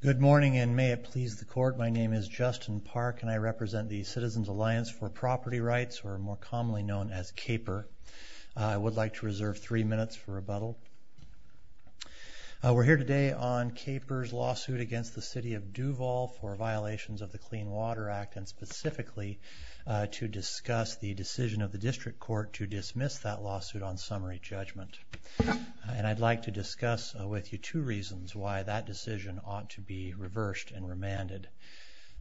Good morning and may it please the court, my name is Justin Park and I represent the Citizens Alliance for Property Rights or more commonly known as CAPER. I would like to reserve three minutes for rebuttal. We're here today on CAPER's lawsuit against the City of Duvall for violations of the Clean Water Act and specifically to discuss the decision of the District Court to dismiss that two reasons why that decision ought to be reversed and remanded.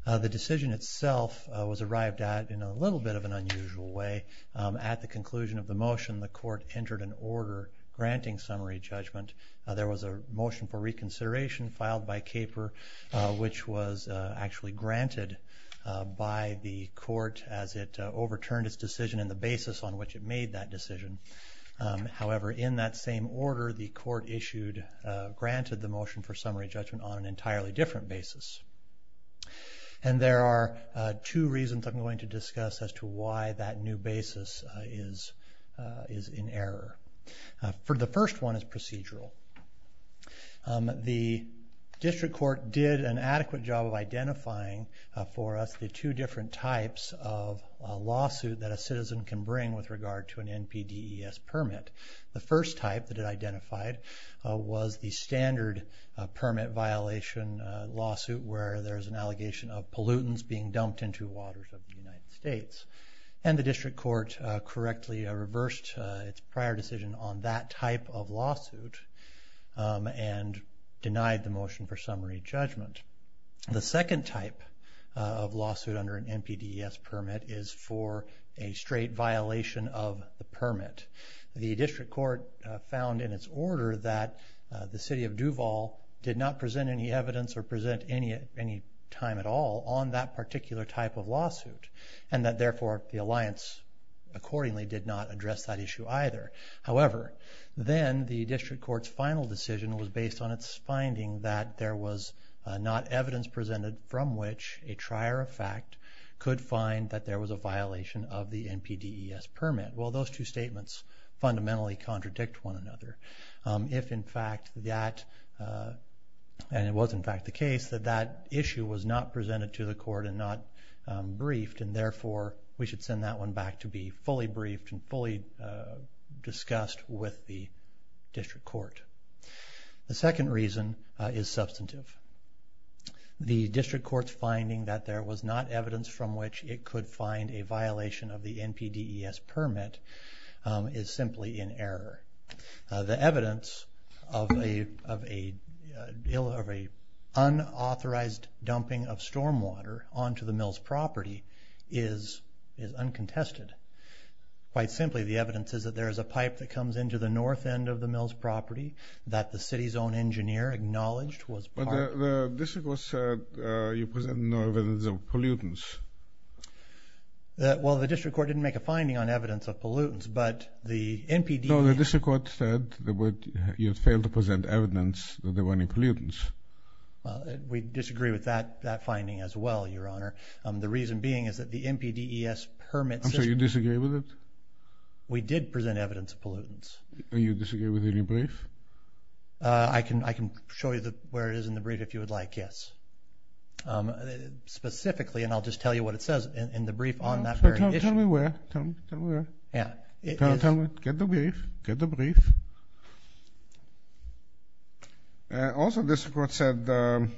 The decision itself was arrived at in a little bit of an unusual way. At the conclusion of the motion the court entered an order granting summary judgment. There was a motion for reconsideration filed by CAPER which was actually granted by the court as it overturned its decision and the basis on which it made that decision. However in that same order the court issued granted the motion for summary judgment on an entirely different basis. And there are two reasons I'm going to discuss as to why that new basis is in error. For the first one is procedural. The District Court did an adequate job of identifying for us the two different types of lawsuit that a citizen can bring with regard to an NPDES permit. The first type that it identified was the standard permit violation lawsuit where there's an allegation of pollutants being dumped into waters of the United States. And the District Court correctly reversed its prior decision on that type of lawsuit and denied the motion for summary judgment. The second type of NPDES permit is for a straight violation of the permit. The District Court found in its order that the city of Duval did not present any evidence or present any time at all on that particular type of lawsuit and that therefore the Alliance accordingly did not address that issue either. However then the District Court's final decision was based on its finding that there was not evidence presented from which a trier of fact could find that there was a violation of the NPDES permit. Well those two statements fundamentally contradict one another. If in fact that, and it was in fact the case, that that issue was not presented to the court and not briefed and therefore we should send that one back to be fully briefed and fully discussed with the District Court. The second reason is substantive. The District Court's finding that there was not evidence from which it could find a violation of the NPDES permit is simply in error. The evidence of an unauthorized dumping of stormwater onto the mills property is uncontested. Quite simply the evidence is that there is a pipe that comes into the north end of the mills property that the city's own engineer acknowledged was part of. But the District Court said you presented no evidence of pollutants. Well the District Court didn't make a finding on evidence of pollutants but the NPDES... No, the District Court said that you failed to present evidence that there were any pollutants. We disagree with that that finding as well your honor. The reason being is that the NPDES permit system... I'm sorry, you disagree with it? We did present evidence of pollutants. Can I show you where it is in the brief if you would like? Yes. Specifically and I'll just tell you what it says in the brief on that very issue. Tell me where. Get the brief. Also the District Court said there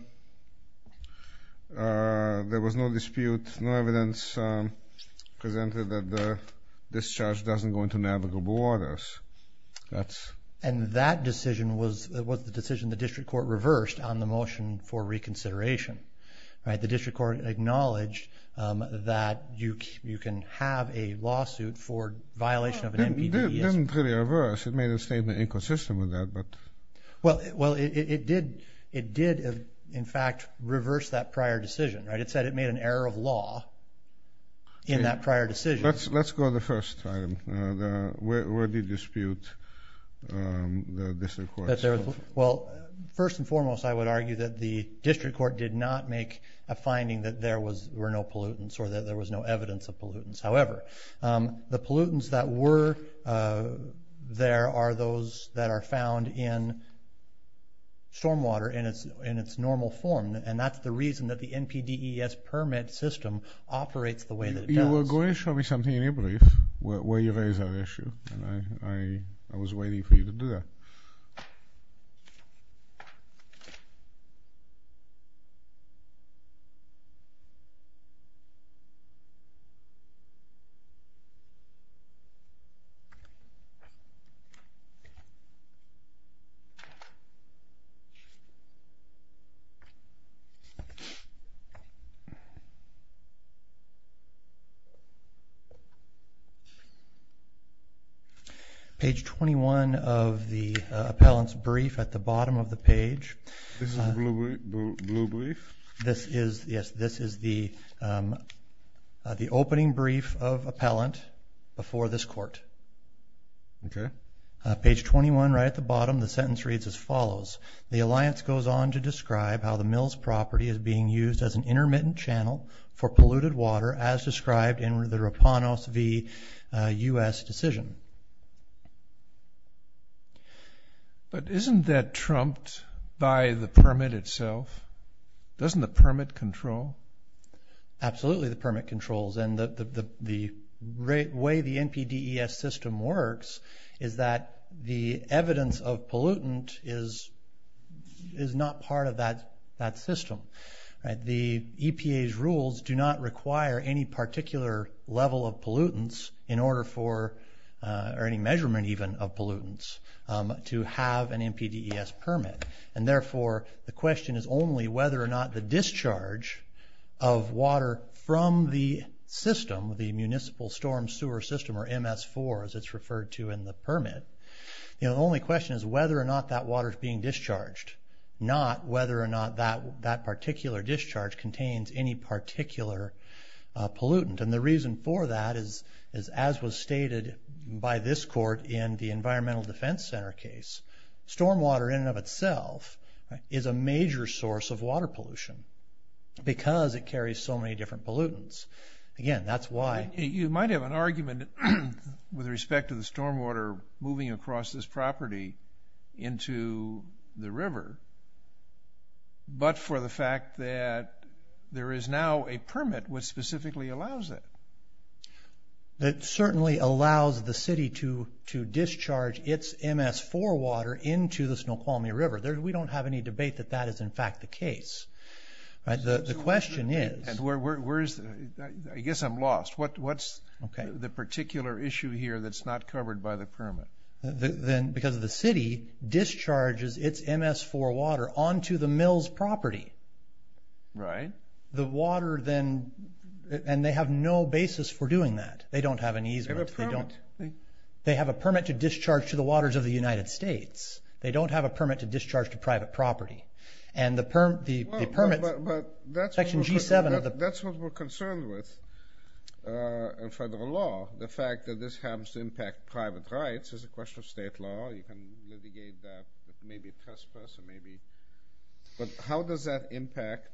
was no dispute, no evidence presented that the discharge doesn't go into navigable waters. And that decision was the decision the District Court reversed on the motion for reconsideration. The District Court acknowledged that you can have a lawsuit for violation of an NPDES permit. It didn't really reverse, it made a statement inconsistent with that. Well it did in fact reverse that prior decision. It said it made an error of law in that prior decision. Let's go the first time. Where did you dispute the District Court? Well first and foremost I would argue that the District Court did not make a finding that there were no pollutants or that there was no evidence of pollutants. However, the pollutants that were there are those that are found in stormwater in its normal form and that's the reason that the NPDES permit system operates the way that it does. Well go ahead and show me something in your brief where you raise that issue. I was waiting for you to do that. Page 21 of the appellant's brief at the bottom of the page. This is the opening brief of appellant before this court. Page 21 right at the bottom the sentence reads as follows. The alliance goes on to describe how the mills property is being used as an intermittent channel for polluted water as described in the Rapanos v. U.S. decision. But isn't that trumped by the permit itself? Doesn't the permit control? Absolutely the permit controls and the way the NPDES system works is that the evidence of pollutant is not part of that system. The EPA's rules do not require any particular level of pollutants in order for any measurement even of pollutants to have an NPDES permit. And therefore the question is only whether or not the discharge of water from the system, the municipal storm sewer system or MS4 as it's referred to in the permit. The only question is whether or not that water is being discharged, not whether or not that particular discharge contains any particular pollutant. And the reason for that is as was stated by this court in the Environmental Defense Center case. Storm water in and of itself is a major source of water pollution because it carries so many different pollutants. You might have an argument with respect to the storm water moving across this property into the river, but for the fact that there is now a permit which specifically allows it. That certainly allows the city to discharge its MS4 water into the Snoqualmie River. We don't have any debate that that is in fact the case. The question is... I guess I'm lost. What's the particular issue here that's not covered by the permit? Because the city discharges its MS4 water onto the mills property. Right. The water then, and they have no basis for doing that. They don't have an easement. They have a permit to discharge to the waters of the United States. They don't have a permit to discharge to private property. But that's what we're concerned with in federal law. The fact that this happens to impact private rights is a question of state law. You can litigate that with maybe trespass or maybe... But how does that impact...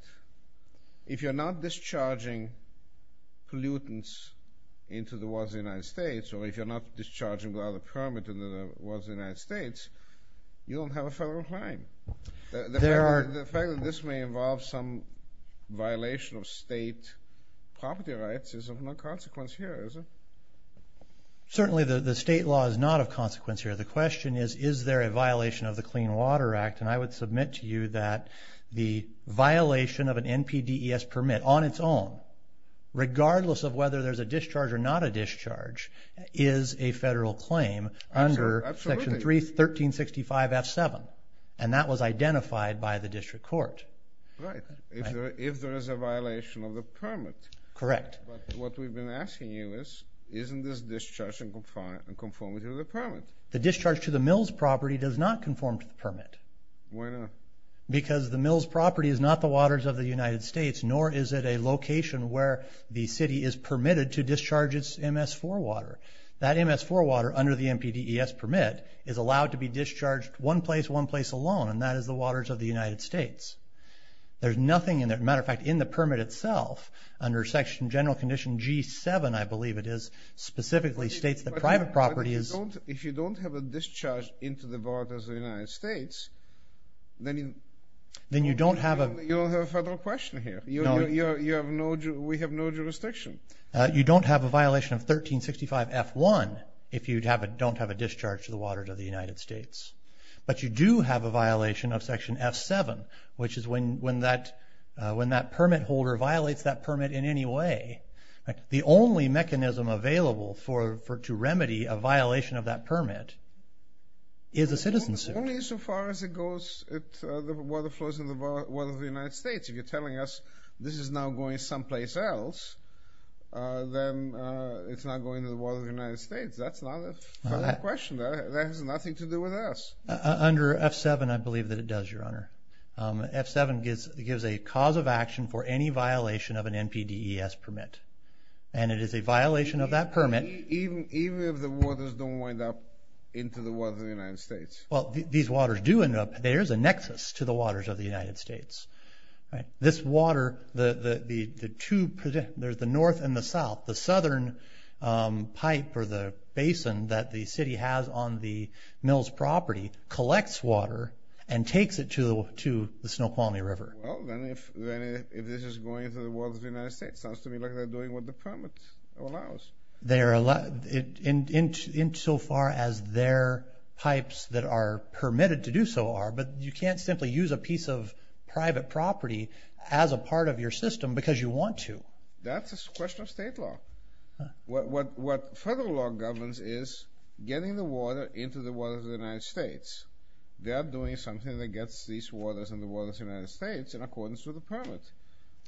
If you're not discharging pollutants into the waters of the United States, or if you're not discharging water permit into the waters of the United States, you don't have a federal crime. The fact that this may involve some violation of state property rights is of no consequence here, is it? Certainly the state law is not of consequence here. The question is, is there a violation of the Clean Water Act? And I would submit to you that the violation of an NPDES permit on its own, regardless of whether there's a discharge or not a discharge, is a federal claim under Section 1365 F7. And that was identified by the district court. Right. If there is a violation of the permit. Correct. But what we've been asking you is, isn't this discharge in conformity with the permit? The discharge to the mills property does not conform to the permit. Why not? Because the mills property is not the waters of the United States, nor is it a location where the city is permitted to discharge its MS4 water. That MS4 water, under the NPDES permit, is allowed to be discharged one place, one place alone, and that is the waters of the United States. There's nothing in there. As a matter of fact, in the permit itself, under Section General Condition G7, I believe it is, specifically states that private property is- But if you don't have a discharge into the waters of the United States, then you- Then you don't have a- You don't have a federal question here. No. We have no jurisdiction. You don't have a violation of 1365F1 if you don't have a discharge to the waters of the United States. But you do have a violation of Section F7, which is when that permit holder violates that permit in any way, the only mechanism available to remedy a violation of that permit is a citizen suit. Only so far as it goes, the water flows in the waters of the United States. If you're telling us this is now going someplace else, then it's not going to the waters of the United States. That's not a federal question. That has nothing to do with us. Under F7, I believe that it does, Your Honor. F7 gives a cause of action for any violation of an NPDES permit, and it is a violation of that permit- Even if the waters don't wind up into the waters of the United States? Well, these waters do end up- There is a nexus to the waters of the United States. This water, the two- There's the north and the south. The southern pipe or the basin that the city has on the mill's property collects water and takes it to the Snoqualmie River. Well, then if this is going to the waters of the United States, it sounds to me like they're doing what the permit allows. In so far as their pipes that are permitted to do so are, but you can't simply use a piece of private property as a part of your system because you want to. That's a question of state law. What federal law governs is getting the water into the waters of the United States. They are doing something that gets these waters in the waters of the United States in accordance with the permit.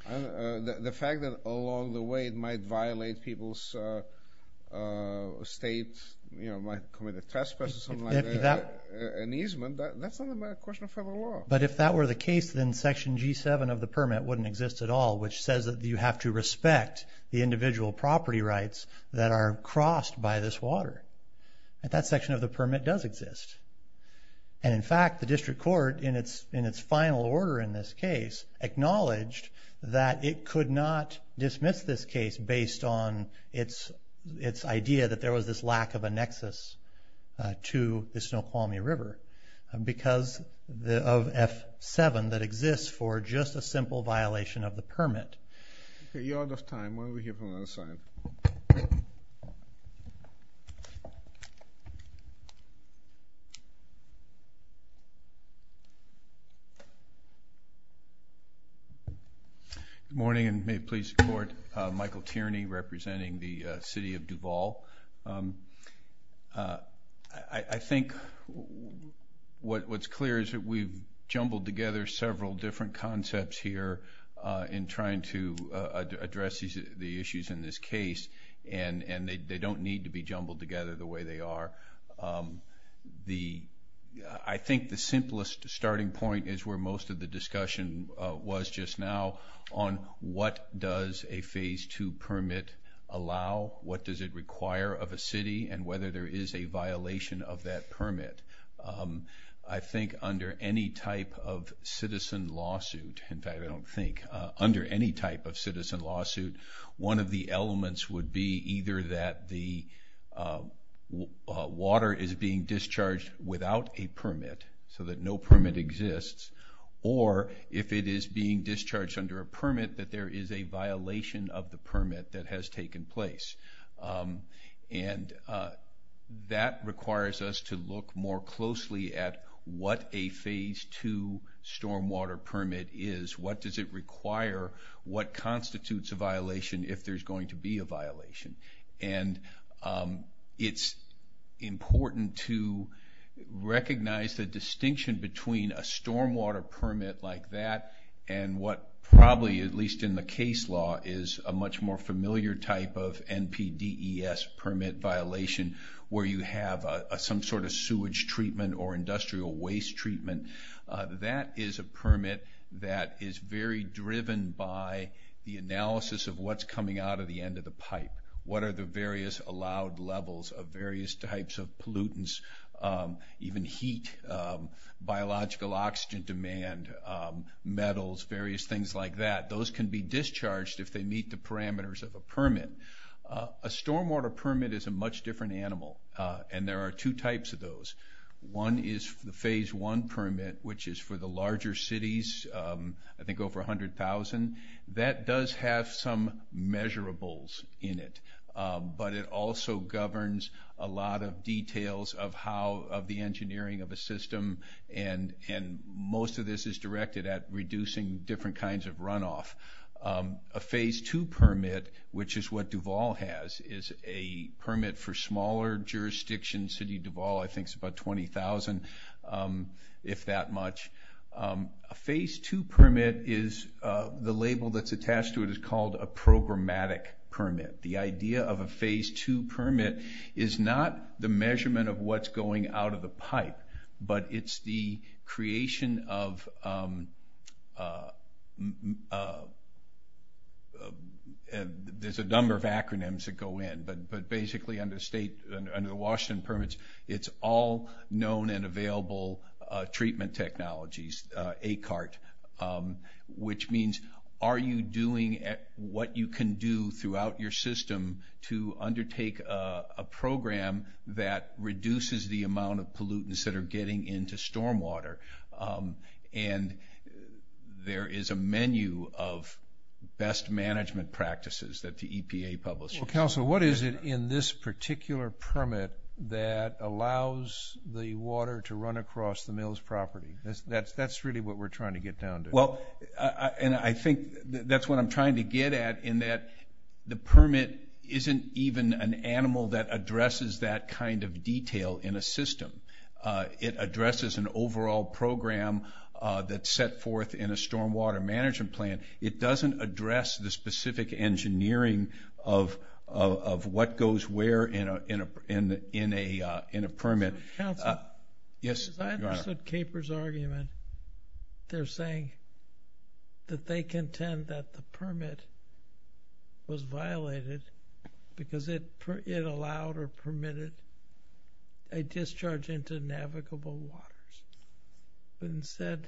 The fact that along the way it might violate people's state, might commit a trespass or something like that, an easement, that's not a question of federal law. But if that were the case, then Section G7 of the permit wouldn't exist at all, which says that you have to respect the individual property rights that are crossed by this water. That section of the permit does exist. And, in fact, the district court, in its final order in this case, acknowledged that it could not dismiss this case based on its idea that there was this lack of a nexus to the Snoqualmie River because of F7 that exists for just a simple violation of the permit. You're out of time. Why don't we hear from the other side? Good morning, and may it please the Court. Michael Tierney representing the city of Duval. I think what's clear is that we've jumbled together several different concepts here in trying to address the issues in this case, and they don't need to be jumbled together the way they are. I think the simplest starting point is where most of the discussion was just now on what does a Phase 2 permit allow, what does it require of a city, and whether there is a violation of that permit. I think under any type of citizen lawsuit, in fact, I don't think, under any type of citizen lawsuit, one of the elements would be either that the water is being discharged without a permit so that no permit exists, or if it is being discharged under a permit, that there is a violation of the permit that has taken place. And that requires us to look more closely at what a Phase 2 stormwater permit is, what does it require, what constitutes a violation if there's going to be a violation. And it's important to recognize the distinction between a stormwater permit like that and what probably, at least in the case law, is a much more familiar type of NPDES permit violation where you have some sort of sewage treatment or industrial waste treatment. That is a permit that is very driven by the analysis of what's coming out of the end of the pipe. What are the various allowed levels of various types of pollutants, even heat, biological oxygen demand, metals, various things like that. Those can be discharged if they meet the parameters of a permit. A stormwater permit is a much different animal, and there are two types of those. One is the Phase 1 permit, which is for the larger cities, I think over 100,000. That does have some measurables in it, but it also governs a lot of details of the engineering of a system, and most of this is directed at reducing different kinds of runoff. A Phase 2 permit, which is what Duval has, is a permit for smaller jurisdictions. City Duval, I think, is about 20,000, if that much. A Phase 2 permit, the label that's attached to it is called a programmatic permit. The idea of a Phase 2 permit is not the measurement of what's going out of the pipe, but it's the creation of a number of acronyms that go in. Basically, under Washington permits, it's all known and available treatment technologies, ACART, which means are you doing what you can do throughout your system to undertake a program that reduces the amount of pollutants that are getting into stormwater? There is a menu of best management practices that the EPA publishes. Council, what is it in this particular permit that allows the water to run across the mill's property? That's really what we're trying to get down to. Well, and I think that's what I'm trying to get at in that the permit isn't even an animal that addresses that kind of detail in a system. It addresses an overall program that's set forth in a stormwater management plan. It doesn't address the specific engineering of what goes where in a permit. Council, as I understood CAPER's argument, they're saying that they contend that the permit was violated because it allowed or permitted a discharge into navigable waters. But instead,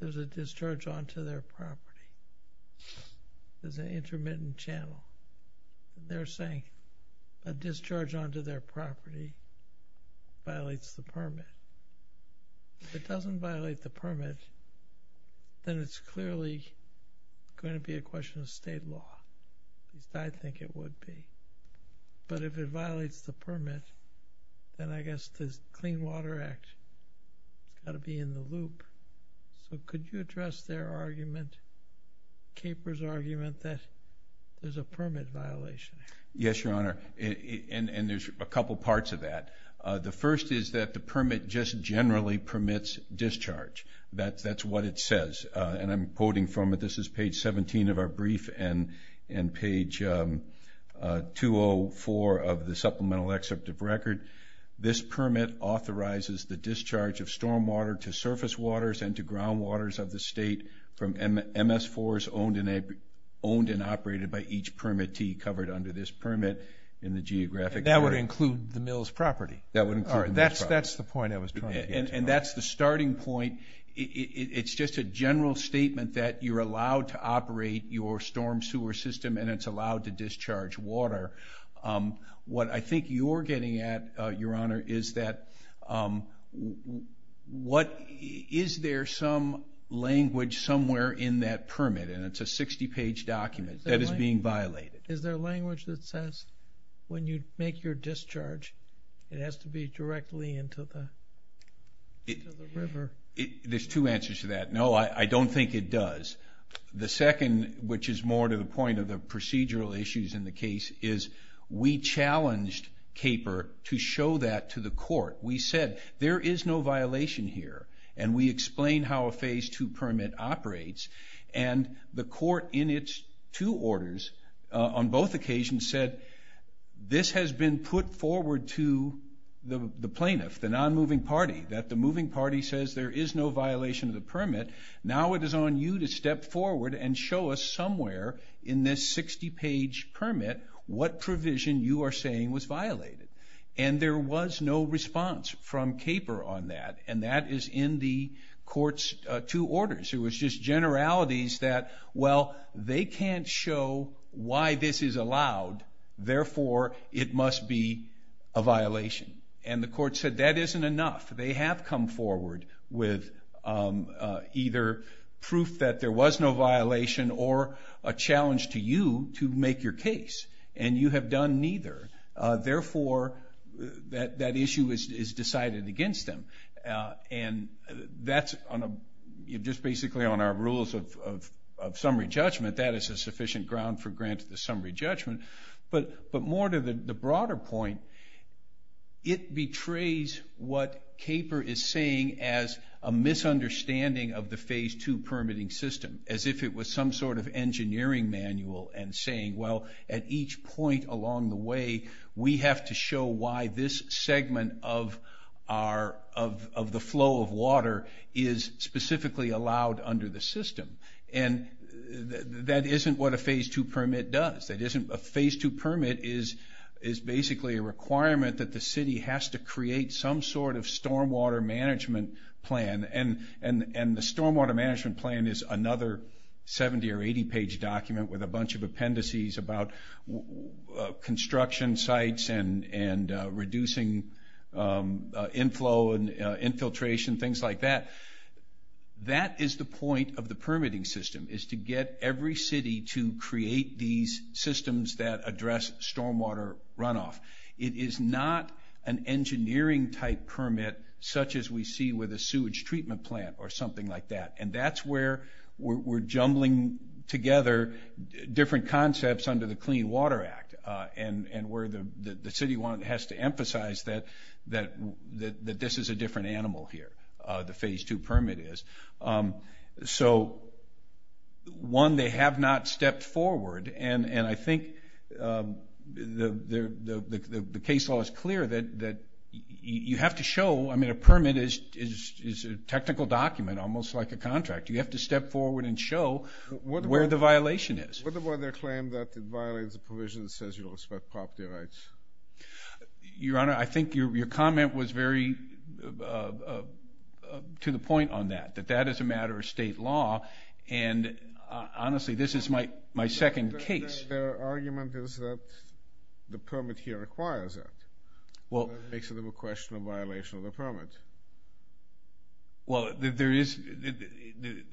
there's a discharge onto their property. There's an intermittent channel. They're saying a discharge onto their property violates the permit. If it doesn't violate the permit, then it's clearly going to be a question of state law. I think it would be. But if it violates the permit, then I guess the Clean Water Act has got to be in the loop. So could you address their argument, CAPER's argument, that there's a permit violation? Yes, Your Honor, and there's a couple parts of that. The first is that the permit just generally permits discharge. That's what it says, and I'm quoting from it. In page 204 of the Supplemental Excerpt of Record, this permit authorizes the discharge of stormwater to surface waters and to groundwaters of the state from MS4s owned and operated by each permittee covered under this permit in the geographic area. That would include the mill's property? That would include the mill's property. All right, that's the point I was trying to get to. And that's the starting point. It's just a general statement that you're allowed to operate your storm sewer system and it's allowed to discharge water. What I think you're getting at, Your Honor, is that is there some language somewhere in that permit? And it's a 60-page document that is being violated. Is there language that says when you make your discharge, it has to be directly into the river? There's two answers to that. No, I don't think it does. The second, which is more to the point of the procedural issues in the case, is we challenged CAPER to show that to the court. We said there is no violation here, and we explained how a Phase II permit operates, and the court in its two orders on both occasions said, this has been put forward to the plaintiff, the non-moving party, that the moving party says there is no violation of the permit. Now it is on you to step forward and show us somewhere in this 60-page permit what provision you are saying was violated. And there was no response from CAPER on that, and that is in the court's two orders. It was just generalities that, well, they can't show why this is allowed, therefore it must be a violation. And the court said that isn't enough. They have come forward with either proof that there was no violation or a challenge to you to make your case, and you have done neither. Therefore, that issue is decided against them. And that's just basically on our rules of summary judgment. That is a sufficient ground for granting the summary judgment. But more to the broader point, it betrays what CAPER is saying as a misunderstanding of the Phase II permitting system, as if it was some sort of engineering manual and saying, well, at each point along the way, we have to show why this segment of the flow of water is specifically allowed under the system. And that isn't what a Phase II permit does. A Phase II permit is basically a requirement that the city has to create some sort of stormwater management plan. And the stormwater management plan is another 70- or 80-page document with a bunch of appendices about construction sites and reducing inflow and infiltration, things like that. That is the point of the permitting system, is to get every city to create these systems that address stormwater runoff. It is not an engineering-type permit such as we see with a sewage treatment plant or something like that. And that's where we're jumbling together different concepts under the Clean Water Act and where the city has to emphasize that this is a different animal here, the Phase II permit is. So, one, they have not stepped forward, and I think the case law is clear that you have to show, I mean, a permit is a technical document almost like a contract. You have to step forward and show where the violation is. What about their claim that it violates a provision that says you respect property rights? Your Honor, I think your comment was very to the point on that, that that is a matter of state law, and honestly, this is my second case. Their argument is that the permit here requires that. That makes it a question of violation of the permit. Well,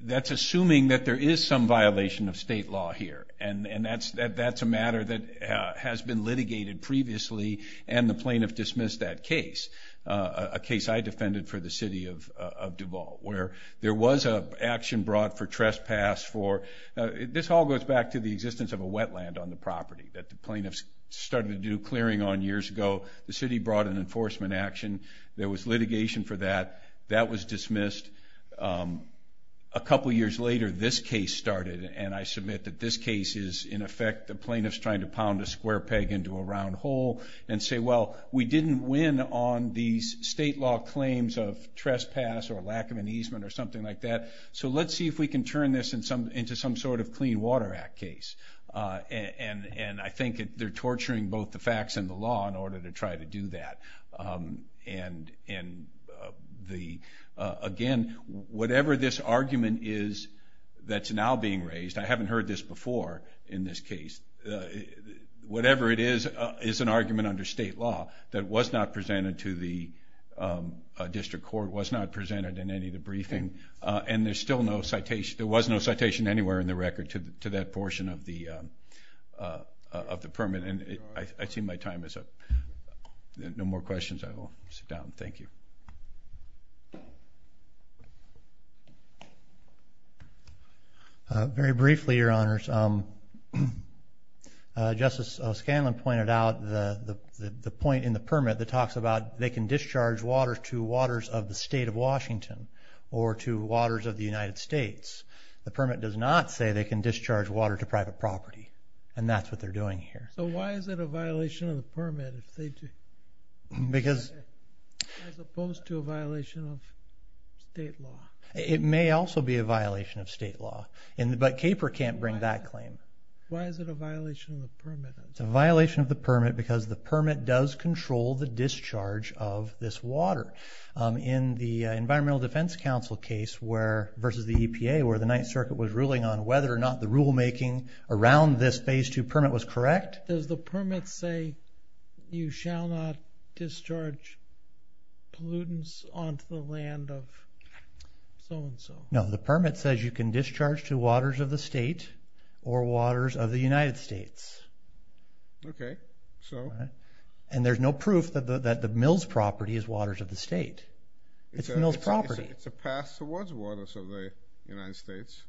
that's assuming that there is some violation of state law here, and that's a matter that has been litigated previously, and the plaintiff dismissed that case, a case I defended for the city of Duval, where there was an action brought for trespass for, this all goes back to the existence of a wetland on the property that the plaintiffs started to do clearing on years ago. The city brought an enforcement action. There was litigation for that. That was dismissed. A couple years later, this case started, and I submit that this case is in effect the plaintiffs trying to pound a square peg into a round hole and say, well, we didn't win on these state law claims of trespass or lack of an easement or something like that, so let's see if we can turn this into some sort of Clean Water Act case. And I think they're torturing both the facts and the law in order to try to do that. And again, whatever this argument is that's now being raised, I haven't heard this before in this case, whatever it is is an argument under state law that was not presented to the district court, was not presented in any of the briefing, and there was no citation anywhere in the record to that portion of the permit. And I see my time is up. No more questions? I will sit down. Thank you. Very briefly, Your Honors, Justice Scanlon pointed out the point in the permit that talks about they can discharge water to waters of the state of Washington or to waters of the United States. The permit does not say they can discharge water to private property, and that's what they're doing here. So why is it a violation of the permit as opposed to a violation of state law? It may also be a violation of state law, but CAPER can't bring that claim. Why is it a violation of the permit? It's a violation of the permit because the permit does control the discharge of this water. In the Environmental Defense Council case versus the EPA where the Ninth Circuit was ruling on whether or not the rulemaking around this Phase II permit was correct. Does the permit say you shall not discharge pollutants onto the land of so-and-so? No, the permit says you can discharge to waters of the state or waters of the United States. Okay, so? And there's no proof that the mills property is waters of the state. It's the mills property. It's a path towards waters of the United States.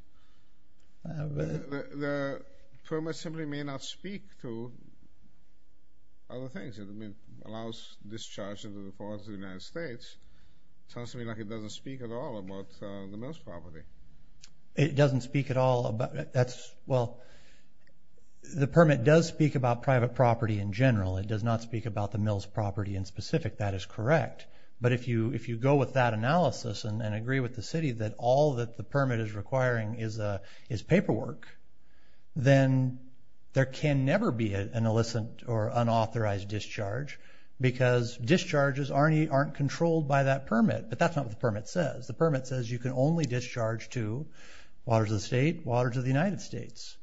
The permit simply may not speak to other things. It allows discharge into the waters of the United States. It sounds to me like it doesn't speak at all about the mills property. It doesn't speak at all about that. Well, the permit does speak about private property in general. It does not speak about the mills property in specific. That is correct. But if you go with that analysis and agree with the city that all that the permit is requiring is paperwork, then there can never be an illicit or unauthorized discharge because discharges aren't controlled by that permit. But that's not what the permit says. The permit says you can only discharge to waters of the state, waters of the United States.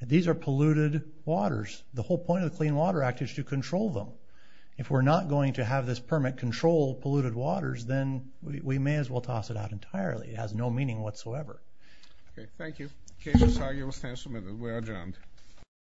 These are polluted waters. The whole point of the Clean Water Act is to control them. If we're not going to have this permit control polluted waters, then we may as well toss it out entirely. It has no meaning whatsoever. Okay, thank you. The case is argued. We're adjourned.